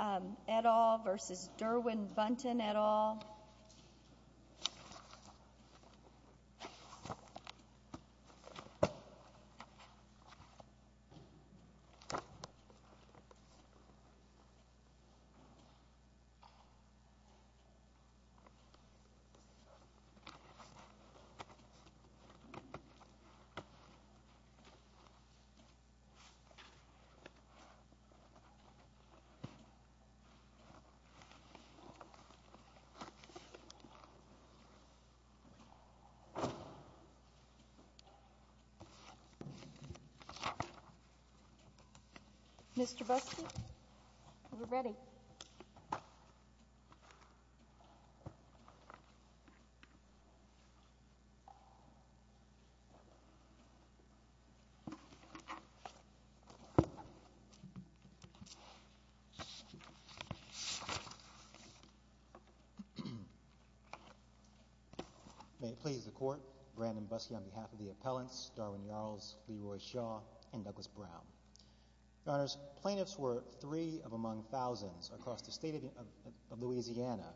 Yarls, Jr. v. Derwyn Bunton Mr. Buston, are we ready? May it please the Court, Brandon Buskey on behalf of the appellants, Derwyn Yarls, Leroy Shaw, and Douglas Brown. Your Honors, plaintiffs were three of among thousands across the state of Louisiana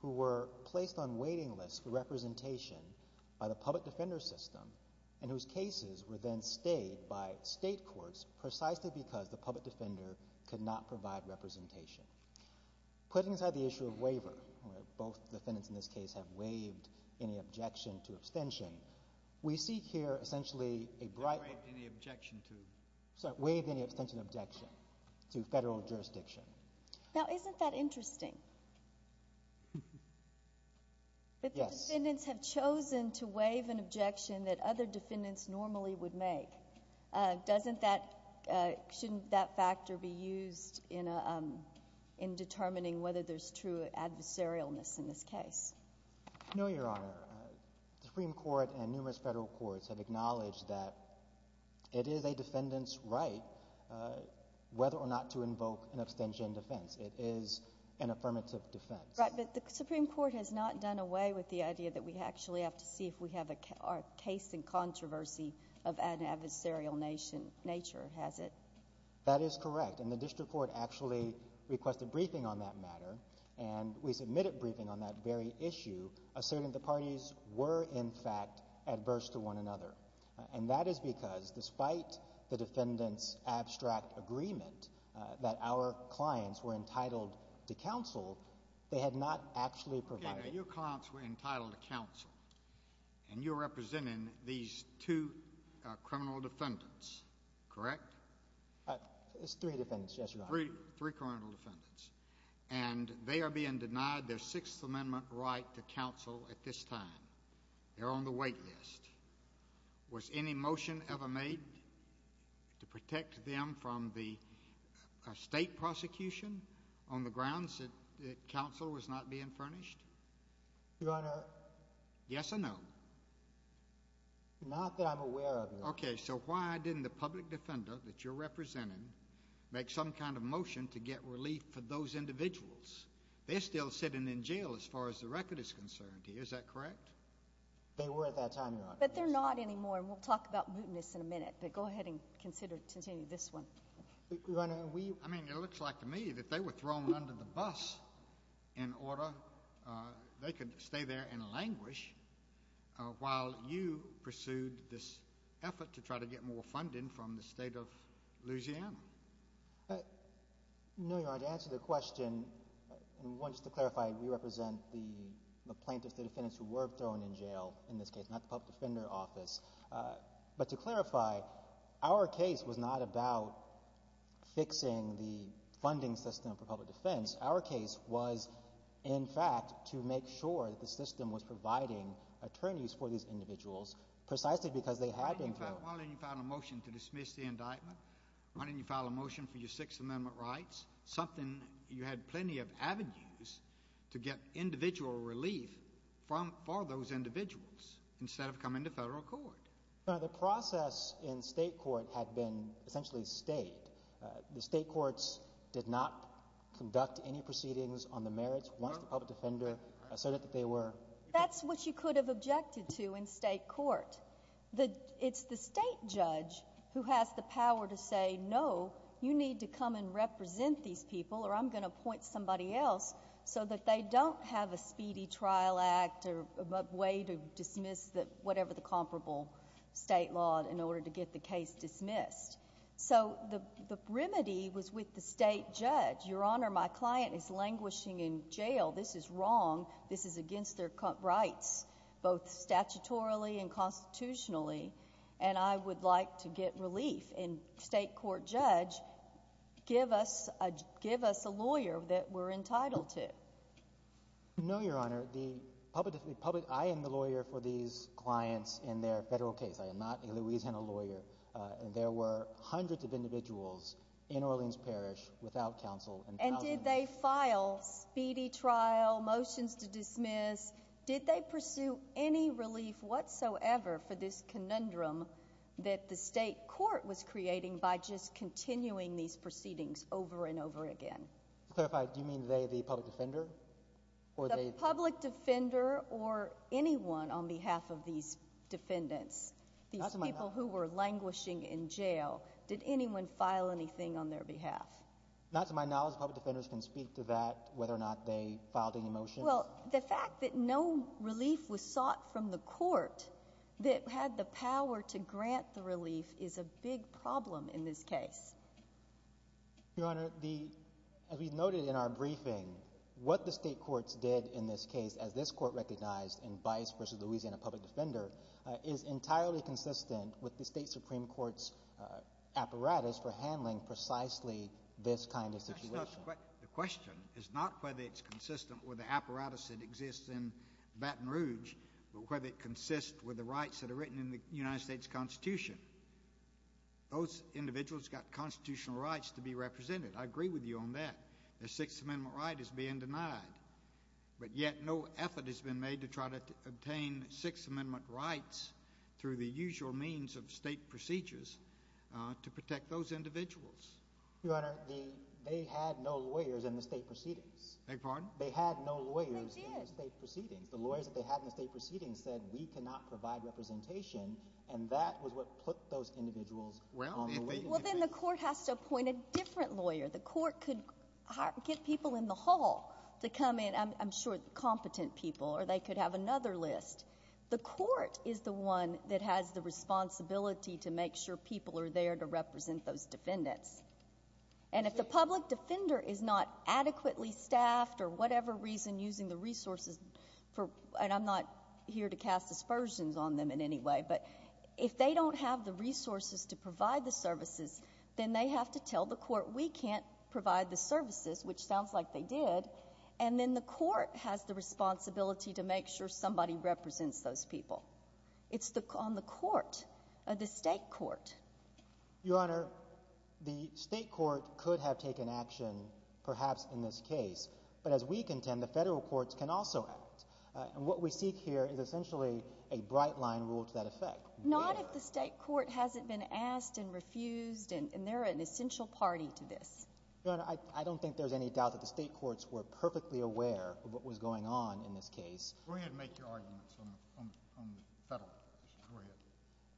who were placed on waiting lists for representation by the public defender system and whose cases were then stayed by state courts precisely because the public defender could not provide representation. Putting aside the issue of waiver, where both defendants in this case have waived any objection to abstention, we see here essentially a bright... Waived any objection to? Sorry, waived any abstention objection to federal jurisdiction. Now isn't that interesting? Yes. That the defendants have chosen to waive an objection that other defendants normally would make. Doesn't that, shouldn't that factor be used in determining whether there's true adversarialness in this case? No, Your Honor. The Supreme Court and numerous federal courts have acknowledged that it is a defendant's right whether or not to invoke an abstention defense. It is an affirmative defense. Right, but the Supreme Court has not done away with the idea that we actually have to see if we have a case in controversy of an adversarial nature, has it? That is correct, and the district court actually requested briefing on that matter, and we submitted briefing on that very issue, asserting the parties were in fact adverse to one another. And that is because despite the defendant's abstract agreement that our clients were entitled to counsel, they had not actually provided... It's three defendants, yes, Your Honor. Three criminal defendants, and they are being denied their Sixth Amendment right to counsel at this time. They're on the wait list. Was any motion ever made to protect them from the state prosecution on the grounds that counsel was not being furnished? Your Honor... Yes or no? Not that I'm aware of, Your Honor. Okay, so why didn't the public defender that you're representing make some kind of motion to get relief for those individuals? They're still sitting in jail as far as the record is concerned here. Is that correct? They were at that time, Your Honor. But they're not anymore, and we'll talk about mootness in a minute, but go ahead and continue this one. Your Honor, we... I mean, it looks like to me that they were thrown under the bus in order they could stay there and languish while you pursued this effort to try to get more funding from the State of Louisiana. No, Your Honor. To answer the question, and just to clarify, we represent the plaintiffs, the defendants who were thrown in jail in this case, not the public defender office. But to clarify, our case was not about fixing the funding system for public defense. Our case was, in fact, to make sure that the system was providing attorneys for these individuals precisely because they had been thrown. Why didn't you file a motion to dismiss the indictment? Why didn't you file a motion for your Sixth Amendment rights? You had plenty of avenues to get individual relief for those individuals instead of coming to federal court. Your Honor, the process in state court had been essentially stayed. The state courts did not conduct any proceedings on the merits once the public defender said that they were... That's what you could have objected to in state court. It's the state judge who has the power to say, no, you need to come and represent these people or I'm going to appoint somebody else so that they don't have a speedy trial act or a way to dismiss whatever the comparable state law in order to get the case dismissed. So the remedy was with the state judge. Your Honor, my client is languishing in jail. This is wrong. This is against their rights, both statutorily and constitutionally, and I would like to get relief. And state court judge, give us a lawyer that we're entitled to. No, Your Honor. I am the lawyer for these clients in their federal case. I am not a Louisiana lawyer. There were hundreds of individuals in Orleans Parish without counsel. And did they file speedy trial, motions to dismiss? Did they pursue any relief whatsoever for this conundrum that the state court was creating by just continuing these proceedings over and over again? To clarify, do you mean the public defender? The public defender or anyone on behalf of these defendants, these people who were languishing in jail. Did anyone file anything on their behalf? Not to my knowledge. Public defenders can speak to that, whether or not they filed any motions. Well, the fact that no relief was sought from the court that had the power to grant the relief is a big problem in this case. Your Honor, as we noted in our briefing, what the state courts did in this case, as this court recognized in Bice v. Louisiana Public Defender, is entirely consistent with the state supreme court's apparatus for handling precisely this kind of situation. The question is not whether it's consistent with the apparatus that exists in Baton Rouge, but whether it consists with the rights that are written in the United States Constitution. Those individuals got constitutional rights to be represented. I agree with you on that. The Sixth Amendment right is being denied. But yet no effort has been made to try to obtain Sixth Amendment rights through the usual means of state procedures to protect those individuals. Your Honor, they had no lawyers in the state proceedings. Beg your pardon? They had no lawyers in the state proceedings. The lawyers that they had in the state proceedings said we cannot provide representation, and that was what put those individuals on the waiting list. Well, then the court has to appoint a different lawyer. The court could get people in the hall to come in, I'm sure competent people, or they could have another list. The court is the one that has the responsibility to make sure people are there to represent those defendants. And if the public defender is not adequately staffed or whatever reason using the resources, and I'm not here to cast aspersions on them in any way, but if they don't have the resources to provide the services, then they have to tell the court we can't provide the services, which sounds like they did, and then the court has the responsibility to make sure somebody represents those people. It's on the court, the state court. Your Honor, the state court could have taken action perhaps in this case, but as we contend, the federal courts can also act. And what we seek here is essentially a bright-line rule to that effect. Not if the state court hasn't been asked and refused, and they're an essential party to this. Your Honor, I don't think there's any doubt that the state courts were perfectly aware of what was going on in this case. Go ahead and make your arguments on the federal issues.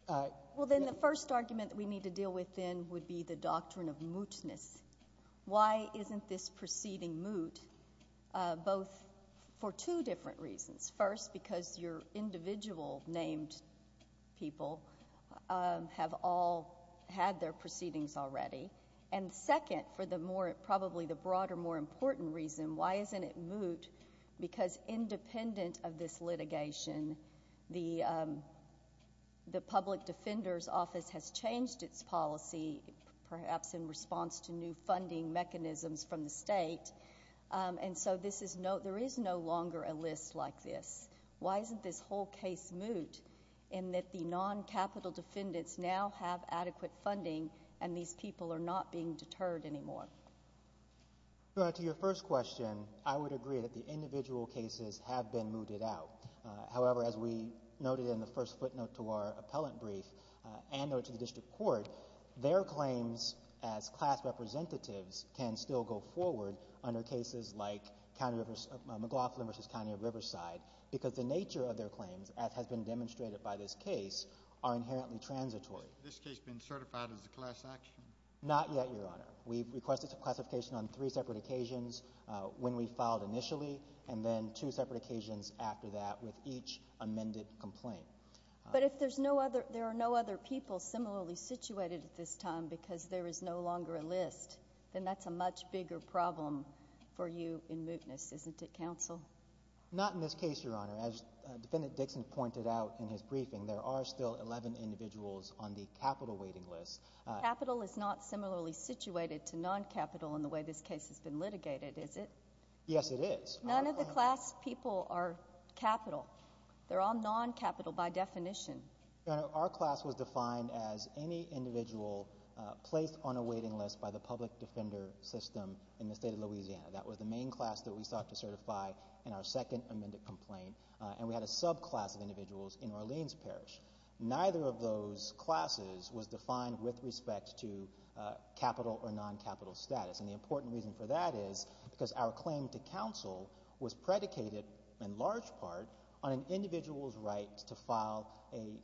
Go ahead. Well, then the first argument that we need to deal with then would be the doctrine of mootness. Why isn't this proceeding moot? Both for two different reasons. First, because your individual named people have all had their proceedings already. And second, for probably the broader, more important reason, why isn't it moot? Because independent of this litigation, the public defender's office has changed its policy, perhaps in response to new funding mechanisms from the state. And so there is no longer a list like this. Why isn't this whole case moot in that the non-capital defendants now have adequate funding and these people are not being deterred anymore? Your Honor, to your first question, I would agree that the individual cases have been mooted out. However, as we noted in the first footnote to our appellant brief and noted to the district court, their claims as class representatives can still go forward under cases like McLaughlin v. County of Riverside because the nature of their claims, as has been demonstrated by this case, are inherently transitory. Has this case been certified as a class action? Not yet, Your Honor. We've requested a classification on three separate occasions when we filed initially and then two separate occasions after that with each amended complaint. But if there are no other people similarly situated at this time because there is no longer a list, then that's a much bigger problem for you in mootness, isn't it, Counsel? Not in this case, Your Honor. As Defendant Dixon pointed out in his briefing, there are still 11 individuals on the capital waiting list. Capital is not similarly situated to non-capital in the way this case has been litigated, is it? Yes, it is. None of the class people are capital. They're all non-capital by definition. Your Honor, our class was defined as any individual placed on a waiting list by the public defender system in the state of Louisiana. That was the main class that we sought to certify in our second amended complaint, and we had a subclass of individuals in Orleans Parish. Neither of those classes was defined with respect to capital or non-capital status, and the important reason for that is because our claim to counsel was predicated, in large part, on an individual's right to file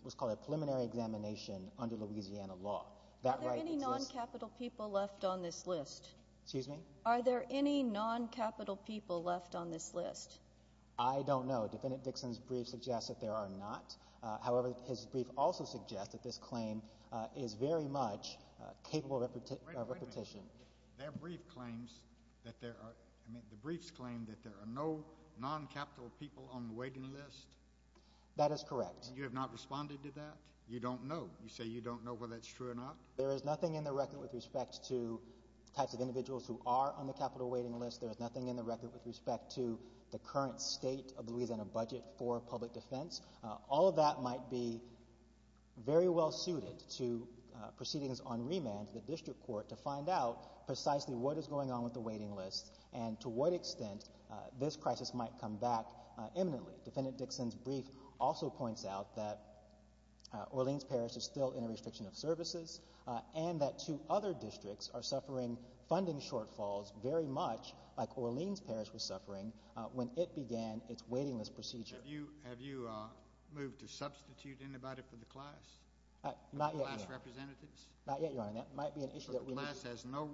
what's called a preliminary examination under Louisiana law. Are there any non-capital people left on this list? Excuse me? Are there any non-capital people left on this list? I don't know. Defendant Dixon's brief suggests that there are not. However, his brief also suggests that this claim is very much capable of repetition. Wait a minute. Their brief claims that there are no non-capital people on the waiting list? That is correct. You have not responded to that? You don't know? You say you don't know whether that's true or not? There is nothing in the record with respect to types of individuals who are on the capital waiting list. There is nothing in the record with respect to the current state of Louisiana budget for public defense. All of that might be very well suited to proceedings on remand to the district court to find out precisely what is going on with the waiting list and to what extent this crisis might come back imminently. Defendant Dixon's brief also points out that Orleans Parish is still in a restriction of services and that two other districts are suffering funding shortfalls very much like Orleans Parish was suffering when it began its waiting list procedure. Judge, have you moved to substitute anybody for the class? Not yet, Your Honor. Class representatives? Not yet, Your Honor. That might be an issue that we need to discuss. The class has no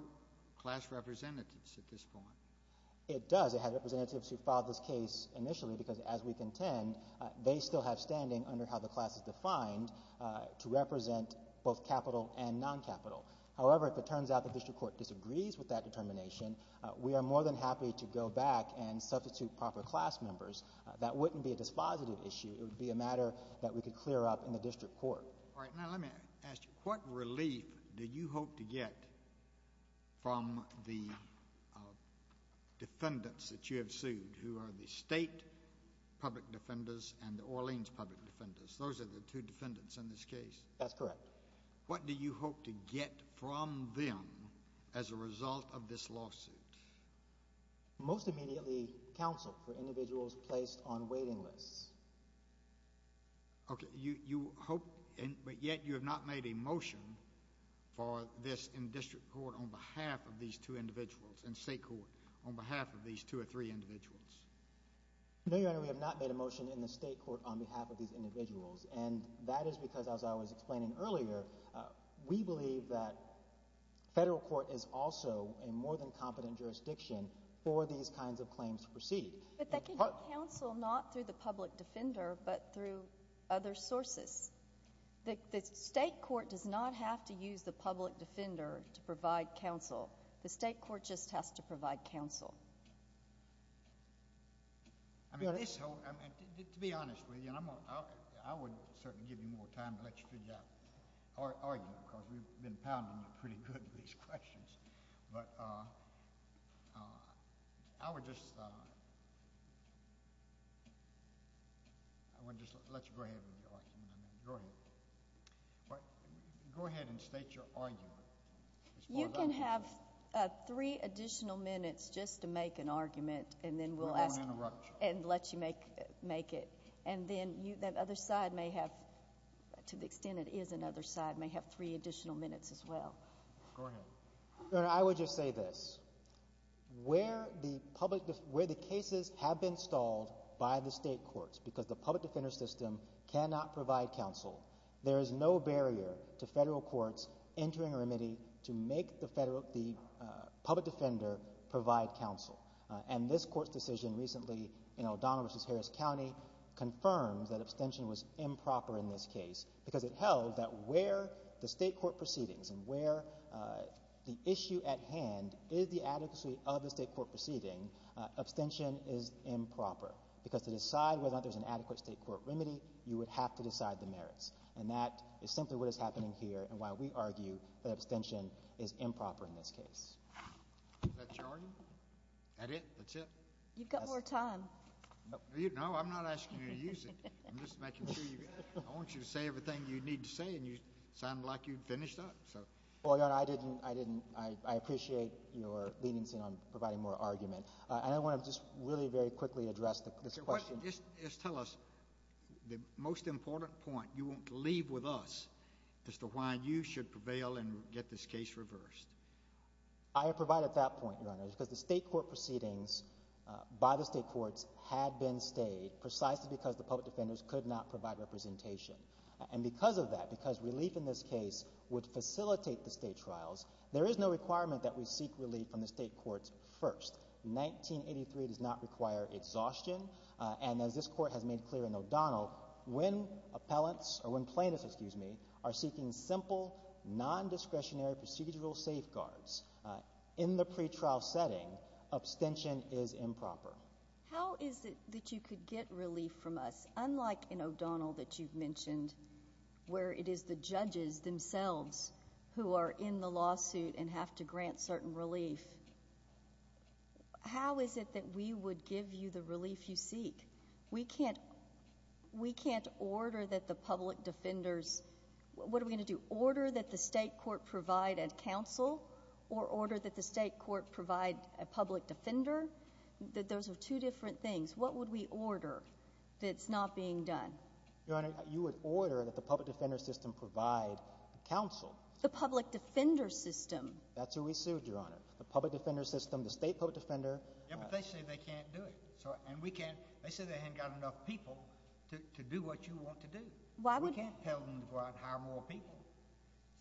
class representatives at this point. It does. It had representatives who filed this case initially because, as we contend, they still have standing under how the class is defined to represent both capital and non-capital. However, if it turns out the district court disagrees with that determination, we are more than happy to go back and substitute proper class members. That wouldn't be a dispositive issue. It would be a matter that we could clear up in the district court. All right. Now let me ask you, what relief do you hope to get from the defendants that you have sued who are the state public defenders and the Orleans public defenders? Those are the two defendants in this case. That's correct. What do you hope to get from them as a result of this lawsuit? Most immediately counsel for individuals placed on waiting lists. Okay. You hope, but yet you have not made a motion for this in district court on behalf of these two individuals, in state court, on behalf of these two or three individuals. No, Your Honor. We have not made a motion in the state court on behalf of these individuals, and that is because, as I was explaining earlier, we believe that federal court is also a more than competent jurisdiction for these kinds of claims to proceed. But they can get counsel not through the public defender but through other sources. The state court does not have to use the public defender to provide counsel. The state court just has to provide counsel. I mean, to be honest with you, and I would certainly give you more time to let you figure out or argue because we've been pounding you pretty good with these questions. But I would just let you go ahead with your argument. Go ahead. Go ahead and state your argument. You can have three additional minutes just to make an argument, and then we'll ask and let you make it. And then that other side may have, to the extent it is another side, may have three additional minutes as well. Go ahead. Your Honor, I would just say this. Where the cases have been stalled by the state courts because the public defender system cannot provide counsel, there is no barrier to federal courts entering a remedy to make the public defender provide counsel. And this court's decision recently in O'Donnell v. Harris County confirmed that abstention was improper in this case because it held that where the state court proceedings and where the issue at hand is the adequacy of the state court proceeding, abstention is improper because to decide whether or not there's an adequate state court remedy, you would have to decide the merits. And that is simply what is happening here and why we argue that abstention is improper in this case. Is that your argument? That it? That's it? You've got more time. No, I'm not asking you to use it. I'm just making sure you got it. I want you to say everything you need to say, and you sounded like you'd finished up. Well, Your Honor, I didn't. I appreciate your leniency on providing more argument. And I want to just really very quickly address this question. Just tell us the most important point you want to leave with us as to why you should prevail and get this case reversed. I provide at that point, Your Honor, because the state court proceedings by the state courts had been stayed precisely because the public defenders could not provide representation. And because of that, because relief in this case would facilitate the state trials, there is no requirement that we seek relief from the state courts first. 1983 does not require exhaustion. And as this Court has made clear in O'Donnell, when plaintiffs are seeking simple, nondiscretionary procedural safeguards in the pretrial setting, abstention is improper. How is it that you could get relief from us, unlike in O'Donnell that you've mentioned, where it is the judges themselves who are in the lawsuit and have to grant certain relief? How is it that we would give you the relief you seek? We can't order that the public defenders – what are we going to do? Order that the state court provide a counsel or order that the state court provide a public defender? Those are two different things. What would we order that's not being done? Your Honor, you would order that the public defender system provide counsel. The public defender system. That's who we sued, Your Honor. The public defender system, the state public defender. Yeah, but they say they can't do it. And we can't – they say they haven't got enough people to do what you want to do. We can't tell them to go out and hire more people.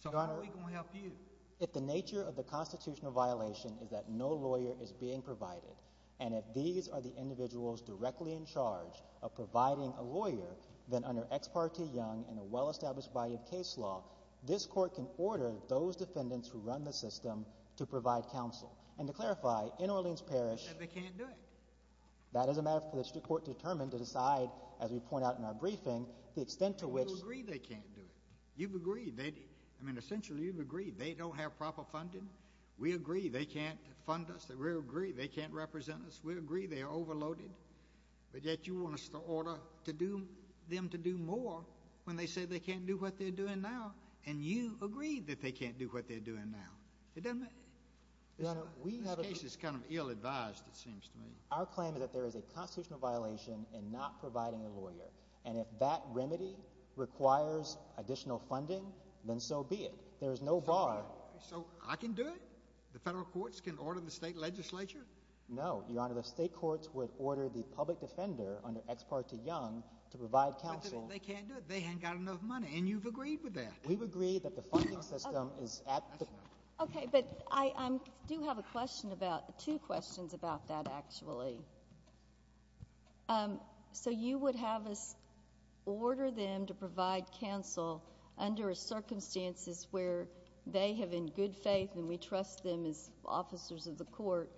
So how are we going to help you? If the nature of the constitutional violation is that no lawyer is being provided, and if these are the individuals directly in charge of providing a lawyer, then under Ex parte Young and a well-established body of case law, this court can order those defendants who run the system to provide counsel. And to clarify, in Orleans Parish— They say they can't do it. That is a matter for the state court to determine, to decide, as we point out in our briefing, the extent to which— And you agree they can't do it. You've agreed. I mean, essentially you've agreed they don't have proper funding. We agree they can't fund us. We agree they can't represent us. We agree they are overloaded. But yet you want us to order them to do more when they say they can't do what they're doing now, and you agree that they can't do what they're doing now. It doesn't make— Your Honor, we have a— This case is kind of ill-advised, it seems to me. Our claim is that there is a constitutional violation in not providing a lawyer, and if that remedy requires additional funding, then so be it. There is no bar. So I can do it? The federal courts can order the state legislature? No, Your Honor. The state courts would order the public defender under Ex parte Young to provide counsel— But they can't do it. They haven't got enough money, and you've agreed with that. We've agreed that the funding system is at the— Okay, but I do have a question about—two questions about that, actually. So you would have us order them to provide counsel under circumstances where they have in good faith, and we trust them as officers of the court,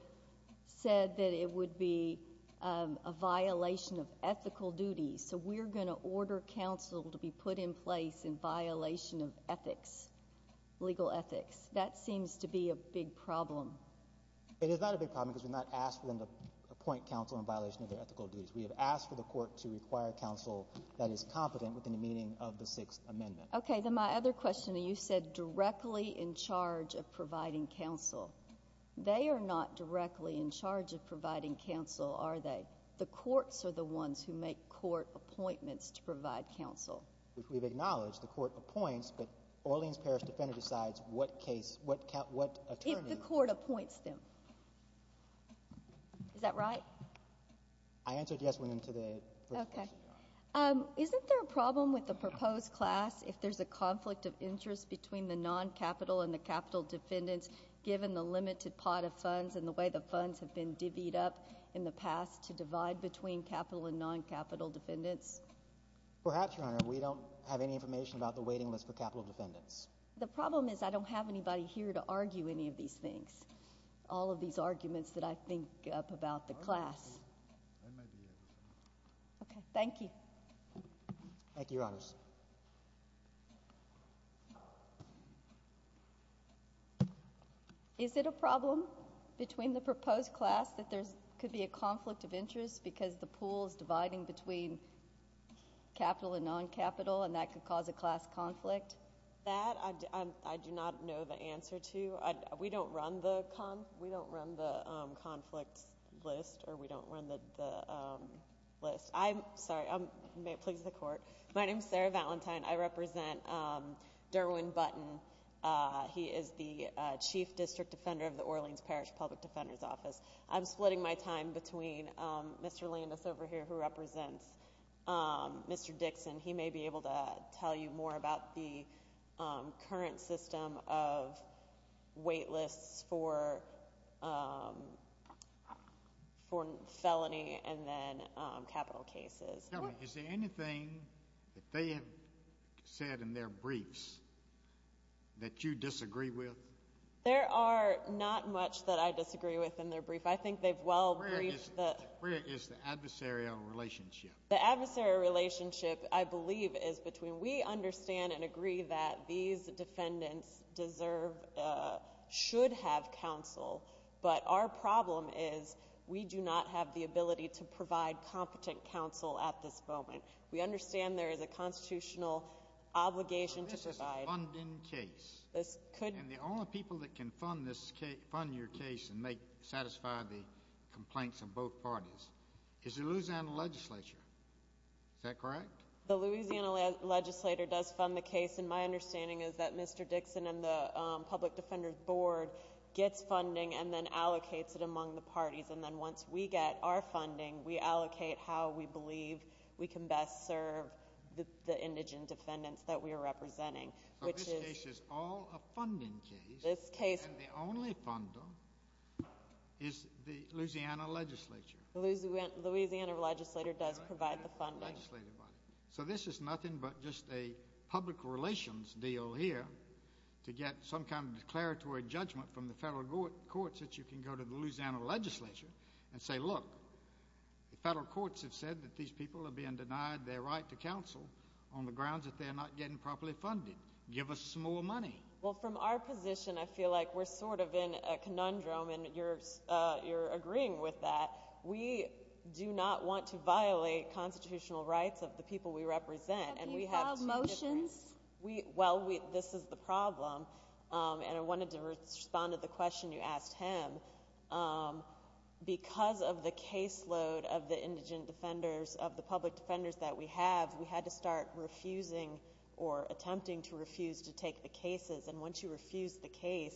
said that it would be a violation of ethical duties. So we're going to order counsel to be put in place in violation of ethics, legal ethics. That seems to be a big problem. It is not a big problem because we're not asking them to appoint counsel in violation of their ethical duties. We have asked for the court to require counsel that is competent within the meaning of the Sixth Amendment. Okay. Then my other question, you said directly in charge of providing counsel. They are not directly in charge of providing counsel, are they? The courts are the ones who make court appointments to provide counsel. We've acknowledged the court appoints, but Orleans Parish defender decides what case, what attorney— appoints them. Is that right? I answered yes when— Okay. Isn't there a problem with the proposed class if there's a conflict of interest between the non-capital and the capital defendants given the limited pot of funds and the way the funds have been divvied up in the past to divide between capital and non-capital defendants? Perhaps, Your Honor. We don't have any information about the waiting list for capital defendants. The problem is I don't have anybody here to argue any of these things, all of these arguments that I think up about the class. I might be able to. Okay. Thank you. Thank you, Your Honors. Is it a problem between the proposed class that there could be a conflict of interest because the pool is dividing between capital and non-capital and that could cause a class conflict? That I do not know the answer to. We don't run the conflicts list or we don't run the list. I'm sorry. Please, the court. My name is Sarah Valentine. I represent Derwin Button. He is the chief district defender of the Orleans Parish Public Defender's Office. I'm splitting my time between Mr. Landis over here who represents Mr. Dixon. He may be able to tell you more about the current system of wait lists for felony and then capital cases. Tell me, is there anything that they have said in their briefs that you disagree with? There are not much that I disagree with in their brief. I think they've well briefed the— Where is the adversarial relationship? The adversarial relationship, I believe, is between we understand and agree that these defendants deserve, should have counsel, but our problem is we do not have the ability to provide competent counsel at this moment. We understand there is a constitutional obligation to provide— But this is a funding case. This could— Is that correct? The Louisiana legislator does fund the case, and my understanding is that Mr. Dixon and the public defender's board gets funding and then allocates it among the parties, and then once we get our funding, we allocate how we believe we can best serve the indigent defendants that we are representing, which is— So this case is all a funding case. This case— And the only funder is the Louisiana legislature. The Louisiana legislator does provide the funding. So this is nothing but just a public relations deal here to get some kind of declaratory judgment from the federal courts that you can go to the Louisiana legislature and say, look, the federal courts have said that these people are being denied their right to counsel on the grounds that they are not getting properly funded. Give us more money. Well, from our position, I feel like we're sort of in a conundrum, and you're agreeing with that. We do not want to violate constitutional rights of the people we represent, and we have— But you filed motions. Well, this is the problem, and I wanted to respond to the question you asked him. Because of the caseload of the indigent defenders, of the public defenders that we have, we had to start refusing or attempting to refuse to take the cases. And once you refuse the case,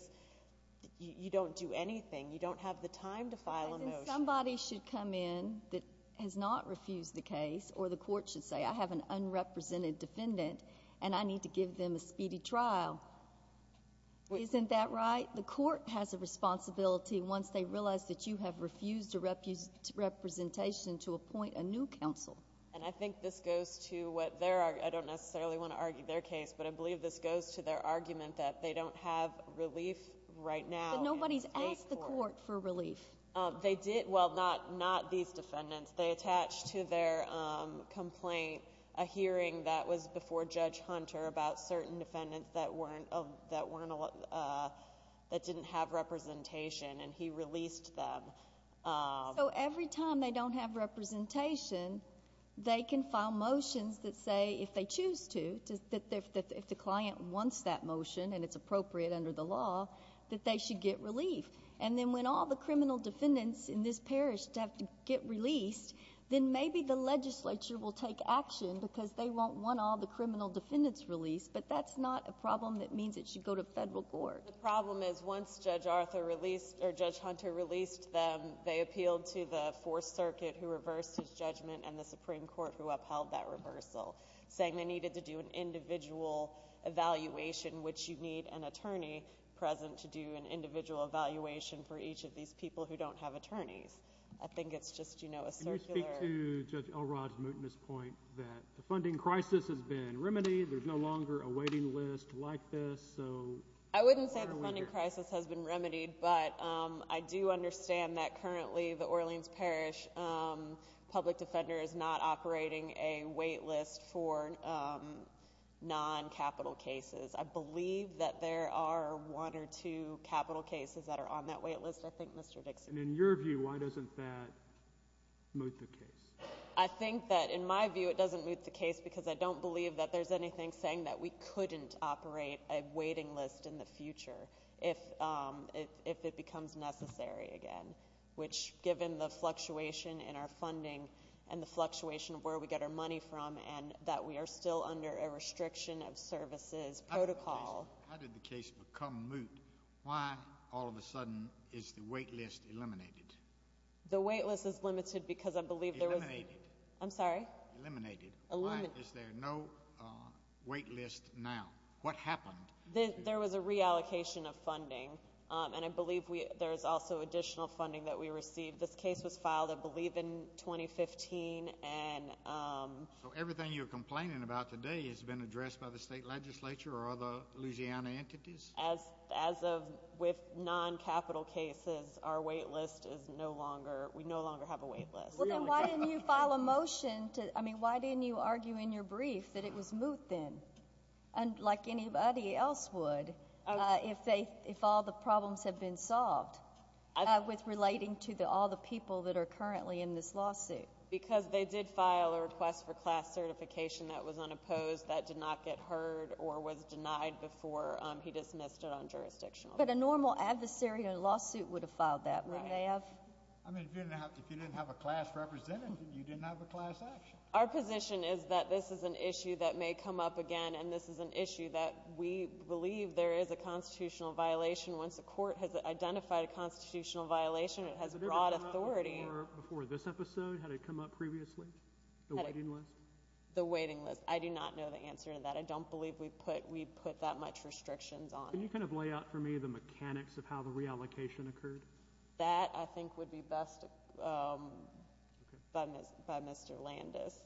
you don't do anything. You don't have the time to file a motion. Somebody should come in that has not refused the case, or the court should say, I have an unrepresented defendant, and I need to give them a speedy trial. Isn't that right? The court has a responsibility once they realize that you have refused a representation to appoint a new counsel. And I think this goes to what their—I don't necessarily want to argue their case, but I believe this goes to their argument that they don't have relief right now. But nobody's asked the court for relief. They did—well, not these defendants. They attached to their complaint a hearing that was before Judge Hunter about certain defendants that didn't have representation, and he released them. So every time they don't have representation, they can file motions that say if they choose to, if the client wants that motion and it's appropriate under the law, that they should get relief. And then when all the criminal defendants in this parish have to get released, then maybe the legislature will take action because they won't want all the criminal defendants released, but that's not a problem that means it should go to federal court. The problem is once Judge Arthur released—or Judge Hunter released them, they appealed to the Fourth Circuit, who reversed his judgment, and the Supreme Court, who upheld that reversal, saying they needed to do an individual evaluation, which you need an attorney present to do an individual evaluation for each of these people who don't have attorneys. I think it's just, you know, a circular— Can you speak to Judge Elrod's mootness point that the funding crisis has been remedied, there's no longer a waiting list like this, so— I wouldn't say the funding crisis has been remedied, but I do understand that currently the Orleans Parish public defender is not operating a wait list for non-capital cases. I believe that there are one or two capital cases that are on that wait list, I think, Mr. Dixon. And in your view, why doesn't that moot the case? I think that in my view it doesn't moot the case because I don't believe that there's anything saying that we couldn't operate a waiting list in the future if it becomes necessary again, which, given the fluctuation in our funding and the fluctuation of where we get our money from and that we are still under a restriction of services protocol— How did the case become moot? Why, all of a sudden, is the wait list eliminated? The wait list is limited because I believe there was— Eliminated. I'm sorry? Eliminated. Why is there no wait list now? What happened? There was a reallocation of funding, and I believe there's also additional funding that we received. This case was filed, I believe, in 2015, and— So everything you're complaining about today has been addressed by the state legislature or other Louisiana entities? As of with non-capital cases, our wait list is no longer—we no longer have a wait list. Well, then why didn't you file a motion to—I mean, why didn't you argue in your brief that it was moot then, like anybody else would, if all the problems have been solved, with relating to all the people that are currently in this lawsuit? Because they did file a request for class certification that was unopposed, that did not get heard or was denied before he dismissed it on jurisdictional— But a normal adversary in a lawsuit would have filed that, wouldn't they have? I mean, if you didn't have a class representative, you didn't have a class action. Our position is that this is an issue that may come up again, and this is an issue that we believe there is a constitutional violation. Once a court has identified a constitutional violation, it has broad authority— Would it have come up before this episode? Had it come up previously, the waiting list? The waiting list. I do not know the answer to that. I don't believe we put that much restrictions on it. Can you kind of lay out for me the mechanics of how the reallocation occurred? That, I think, would be best by Mr. Landis.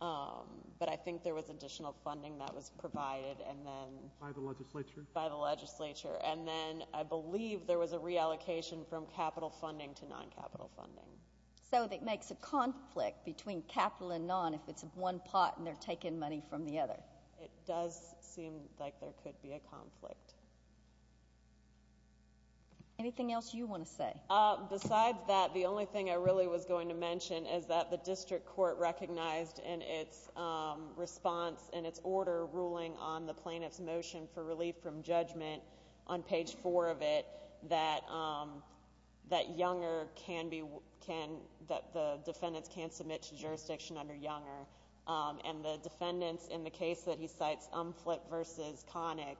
But I think there was additional funding that was provided and then— By the legislature? By the legislature. And then I believe there was a reallocation from capital funding to non-capital funding. So it makes a conflict between capital and non if it's one pot and they're taking money from the other. It does seem like there could be a conflict. Anything else you want to say? Besides that, the only thing I really was going to mention is that the district court recognized in its response, in its order ruling on the plaintiff's motion for relief from judgment on page 4 of it, that Younger can be—that the defendants can submit to jurisdiction under Younger. And the defendants in the case that he cites, Umflit v. Connick,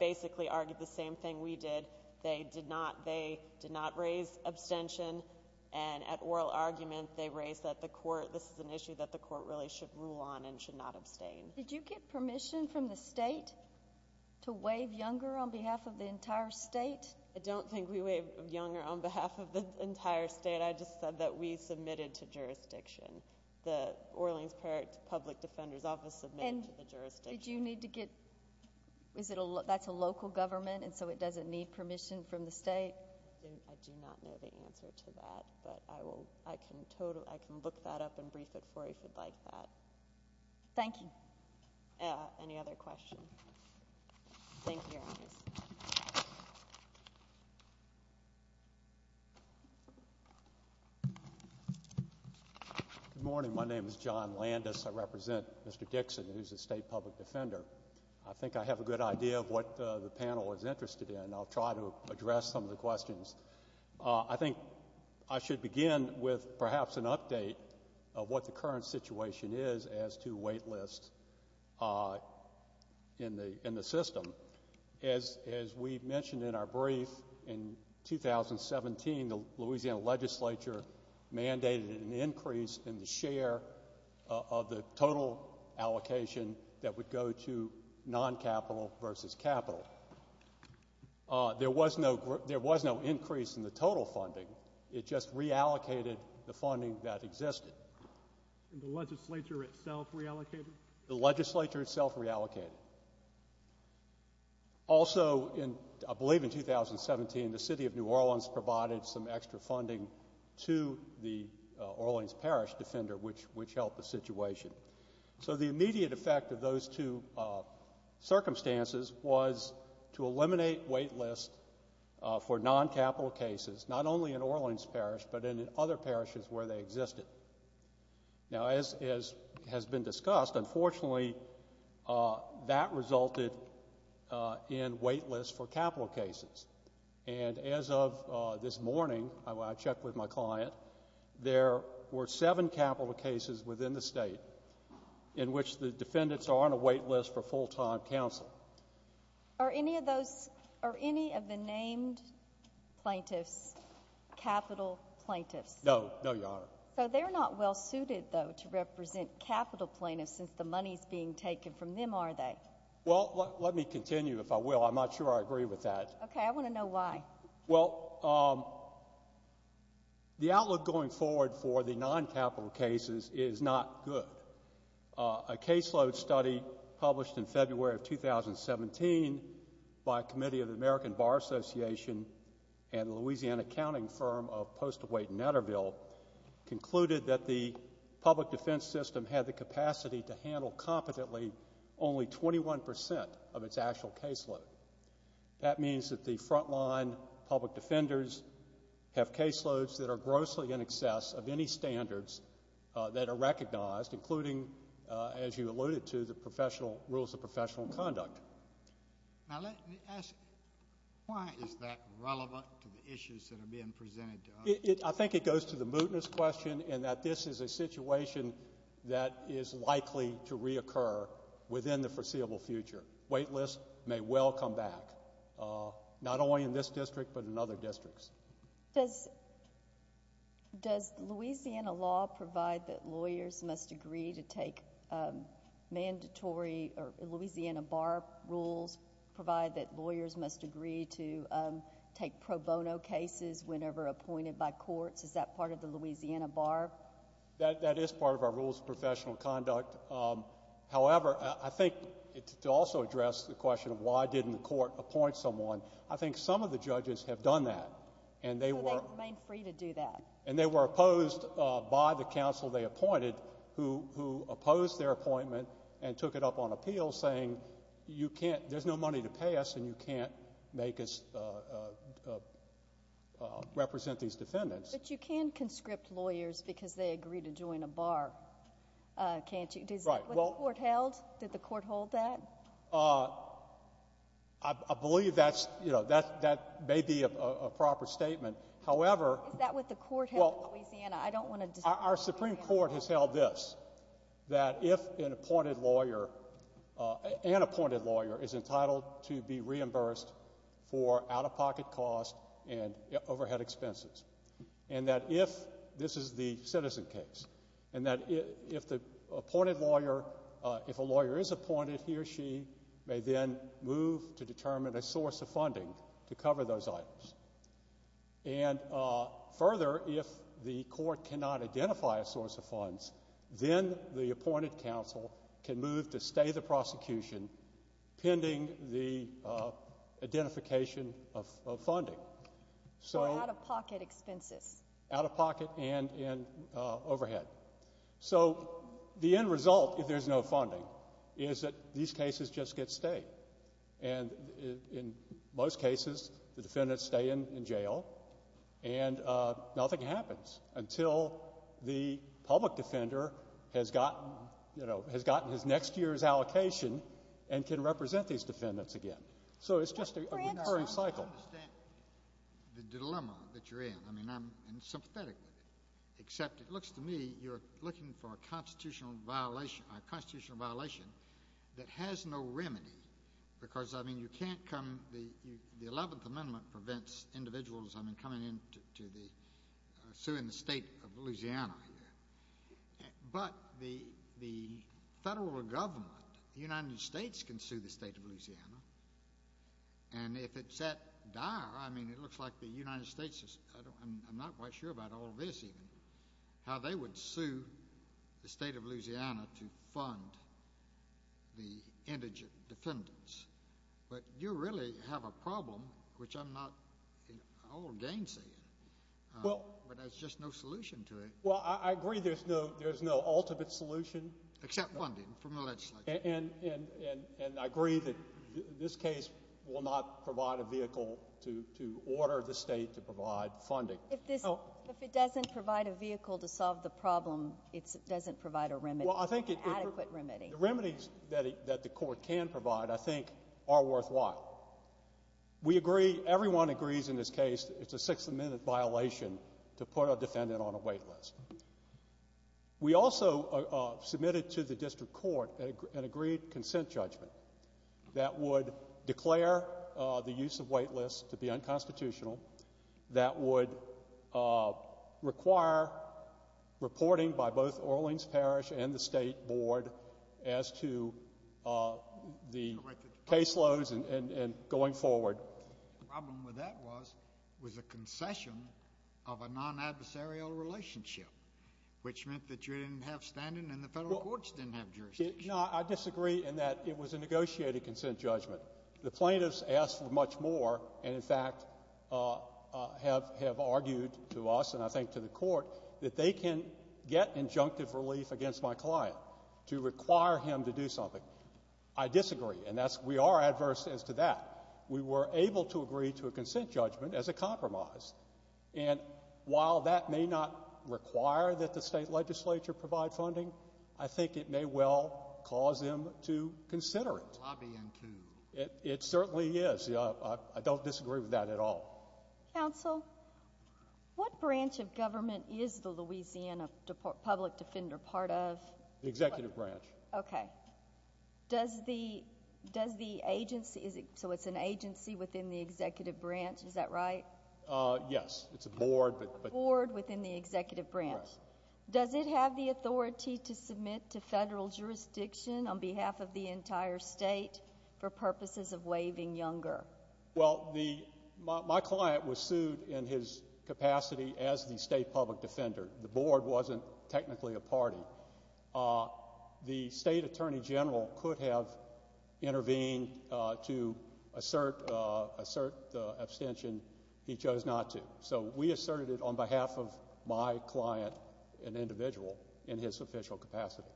basically argued the same thing we did. They did not raise abstention. And at oral argument, they raised that the court—this is an issue that the court really should rule on and should not abstain. Did you get permission from the state to waive Younger on behalf of the entire state? I don't think we waived Younger on behalf of the entire state. I just said that we submitted to jurisdiction. The Orleans Parish Public Defender's Office submitted to the jurisdiction. And did you need to get—that's a local government, and so it doesn't need permission from the state? I do not know the answer to that, but I can look that up and brief it for you if you'd like that. Thank you. Thank you, Your Honors. Good morning. My name is John Landis. I represent Mr. Dixon, who's a state public defender. I think I have a good idea of what the panel is interested in, and I'll try to address some of the questions. I think I should begin with perhaps an update of what the current situation is as to wait lists in the system. As we mentioned in our brief, in 2017, the Louisiana legislature mandated an increase in the share of the total allocation that would go to non-capital versus capital. There was no increase in the total funding. It just reallocated the funding that existed. And the legislature itself reallocated? The legislature itself reallocated. Also, I believe in 2017, the city of New Orleans provided some extra funding to the Orleans Parish defender, which helped the situation. So the immediate effect of those two circumstances was to eliminate wait lists for non-capital cases, not only in Orleans Parish, but in other parishes where they existed. Now, as has been discussed, unfortunately, that resulted in wait lists for capital cases. And as of this morning, I checked with my client, there were seven capital cases within the State in which the defendants are on a wait list for full-time counsel. Are any of those — are any of the named plaintiffs capital plaintiffs? No. No, Your Honor. So they're not well-suited, though, to represent capital plaintiffs since the money is being taken from them, are they? Well, let me continue, if I will. I'm not sure I agree with that. Okay. I want to know why. Well, the outlook going forward for the non-capital cases is not good. A caseload study published in February of 2017 by a committee of the American Bar Association and the Louisiana accounting firm of Post-Await in Natterville concluded that the public defense system had the capacity to handle competently only 21 percent of its actual caseload. That means that the frontline public defenders have caseloads that are grossly in excess of any standards that are recognized, including, as you alluded to, the professional rules of professional conduct. Now, let me ask, why is that relevant to the issues that are being presented to us? I think it goes to the mootness question in that this is a situation that is likely to reoccur within the foreseeable future. Wait lists may well come back, not only in this district but in other districts. Does Louisiana law provide that lawyers must agree to take mandatory or Louisiana bar rules, provide that lawyers must agree to take pro bono cases whenever appointed by courts? Is that part of the Louisiana bar? That is part of our rules of professional conduct. However, I think to also address the question of why didn't the court appoint someone, I think some of the judges have done that, and they were — So they remain free to do that. And they were opposed by the counsel they appointed, who opposed their appointment and took it up on appeal, saying you can't — there's no money to pay us, and you can't make us represent these defendants. But you can conscript lawyers because they agree to join a bar, can't you? Right. Was the court held? Did the court hold that? I believe that's — you know, that may be a proper statement. However — Is that what the court held in Louisiana? I don't want to — Our Supreme Court has held this, that if an appointed lawyer — an appointed lawyer is entitled to be reimbursed for out-of-pocket costs and overhead expenses, and that if — this is the citizen case — and that if the appointed lawyer — if a lawyer is appointed, he or she may then move to determine a source of funding to cover those items. And further, if the court cannot identify a source of funds, then the appointed counsel can move to stay the prosecution pending the identification of funding. Or out-of-pocket expenses. Out-of-pocket and overhead. So the end result, if there's no funding, is that these cases just get stayed. And in most cases, the defendants stay in jail, and nothing happens until the public defender has gotten — you know, has gotten his next year's allocation and can represent these defendants again. So it's just a recurring cycle. I understand the dilemma that you're in. I mean, I'm sympathetic with it. Except it looks to me you're looking for a constitutional violation that has no remedy. Because, I mean, you can't come — the 11th Amendment prevents individuals, I mean, coming into the — suing the state of Louisiana here. But the federal government, the United States, can sue the state of Louisiana. And if it's that dire, I mean, it looks like the United States is — I'm not quite sure about all this, even. How they would sue the state of Louisiana to fund the indigent defendants. But you really have a problem, which I'm not all gainsaying, but there's just no solution to it. Well, I agree there's no ultimate solution. Except funding from the legislature. And I agree that this case will not provide a vehicle to order the state to provide funding. If this — if it doesn't provide a vehicle to solve the problem, it doesn't provide a remedy. Well, I think it — An adequate remedy. The remedies that the court can provide, I think, are worthwhile. We agree — everyone agrees in this case it's a six-minute violation to put a defendant on a wait list. We also submitted to the district court an agreed consent judgment that would declare the use of wait lists to be unconstitutional, that would require reporting by both Orleans Parish and the state board as to the caseloads and going forward. The problem with that was it was a concession of a non-adversarial relationship, which meant that you didn't have standing and the Federal courts didn't have jurisdiction. No, I disagree in that it was a negotiated consent judgment. The plaintiffs asked for much more and, in fact, have argued to us and I think to the court that they can get injunctive relief against my client to require him to do something. I disagree. And that's — we are adverse as to that. We were able to agree to a consent judgment as a compromise. And while that may not require that the state legislature provide funding, I think it may well cause them to consider it. Lobby and cue. It certainly is. I don't disagree with that at all. Counsel, what branch of government is the Louisiana public defender part of? The executive branch. Okay. Does the agency — so it's an agency within the executive branch. Is that right? Yes. It's a board. A board within the executive branch. Right. Does it have the authority to submit to federal jurisdiction on behalf of the entire state for purposes of waiving Younger? Well, my client was sued in his capacity as the state public defender. The board wasn't technically a party. The state attorney general could have intervened to assert the abstention. He chose not to. So we asserted it on behalf of my client, an individual, in his official capacity.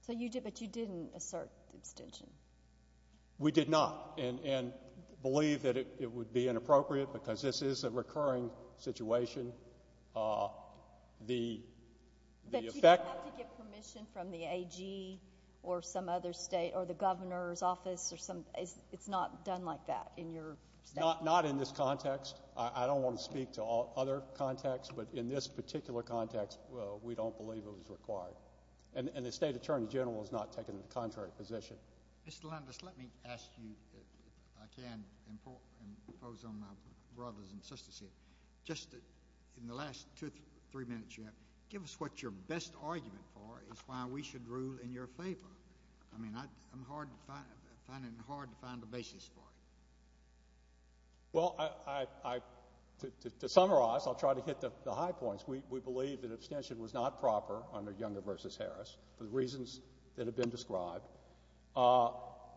So you did, but you didn't assert the abstention. We did not and believe that it would be inappropriate because this is a recurring situation. But you don't have to get permission from the AG or some other state or the governor's office. It's not done like that in your state? Not in this context. I don't want to speak to other contexts, but in this particular context, we don't believe it was required. And the state attorney general has not taken the contrary position. Mr. Landis, let me ask you, if I can, and impose on my brothers and sisters here. Just in the last two or three minutes you have, give us what your best argument for is why we should rule in your favor. I mean, I'm finding it hard to find a basis for it. Well, to summarize, I'll try to hit the high points. We believe that abstention was not proper under Younger v. Harris for the reasons that have been described.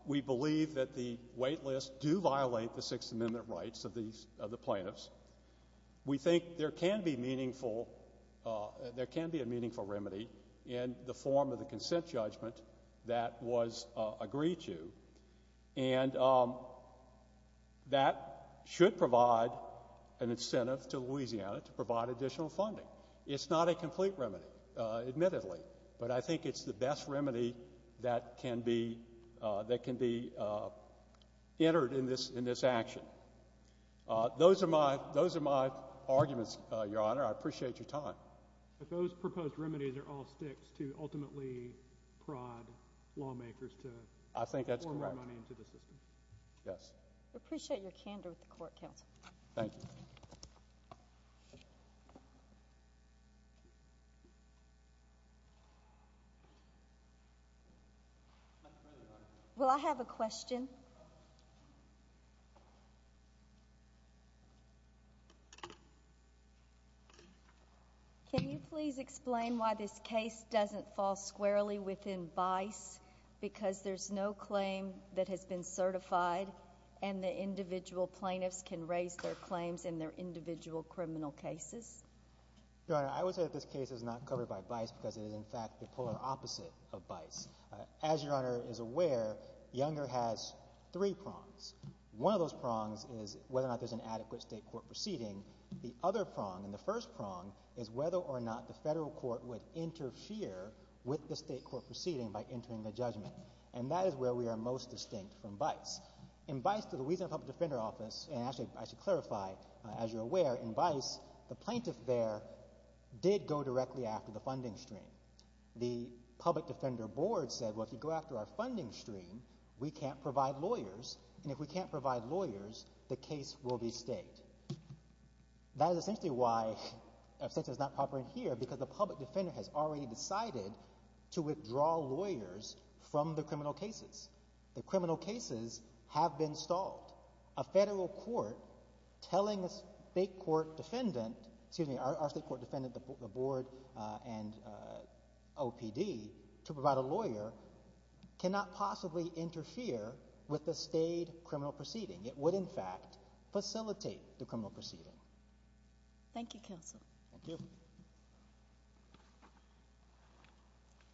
We believe that the wait lists do violate the Sixth Amendment rights of the plaintiffs. We think there can be meaningful, there can be a meaningful remedy in the form of the consent judgment that was agreed to. And that should provide an incentive to Louisiana to provide additional funding. It's not a complete remedy, admittedly, but I think it's the best remedy that can be entered in this action. Those are my arguments, Your Honor. I appreciate your time. But those proposed remedies are all sticks to ultimately prod lawmakers to pour money into the system. I think that's correct. Yes. We appreciate your candor with the court, counsel. Thank you. Thank you. Will I have a question? Can you please explain why this case doesn't fall squarely within BICE because there's no claim that has been certified and the individual plaintiffs can raise their claims in their individual criminal cases? Your Honor, I would say that this case is not covered by BICE because it is, in fact, the polar opposite of BICE. As Your Honor is aware, Younger has three prongs. One of those prongs is whether or not there's an adequate state court proceeding. The other prong, and the first prong, is whether or not the federal court would interfere with the state court proceeding by entering the judgment. And that is where we are most distinct from BICE. In BICE, the Louisiana Public Defender Office, and actually I should clarify, as you're aware, in BICE, the plaintiff there did go directly after the funding stream. The Public Defender Board said, well, if you go after our funding stream, we can't provide lawyers, and if we can't provide lawyers, the case will be stayed. That is essentially why a census is not proper in here because the public defender has already decided to withdraw lawyers from the criminal cases. The criminal cases have been stalled. A federal court telling a state court defendant—excuse me, our state court defendant, the board, and OPD to provide a lawyer cannot possibly interfere with the stayed criminal proceeding. It would, in fact, facilitate the criminal proceeding. Thank you, Counsel. Thank you.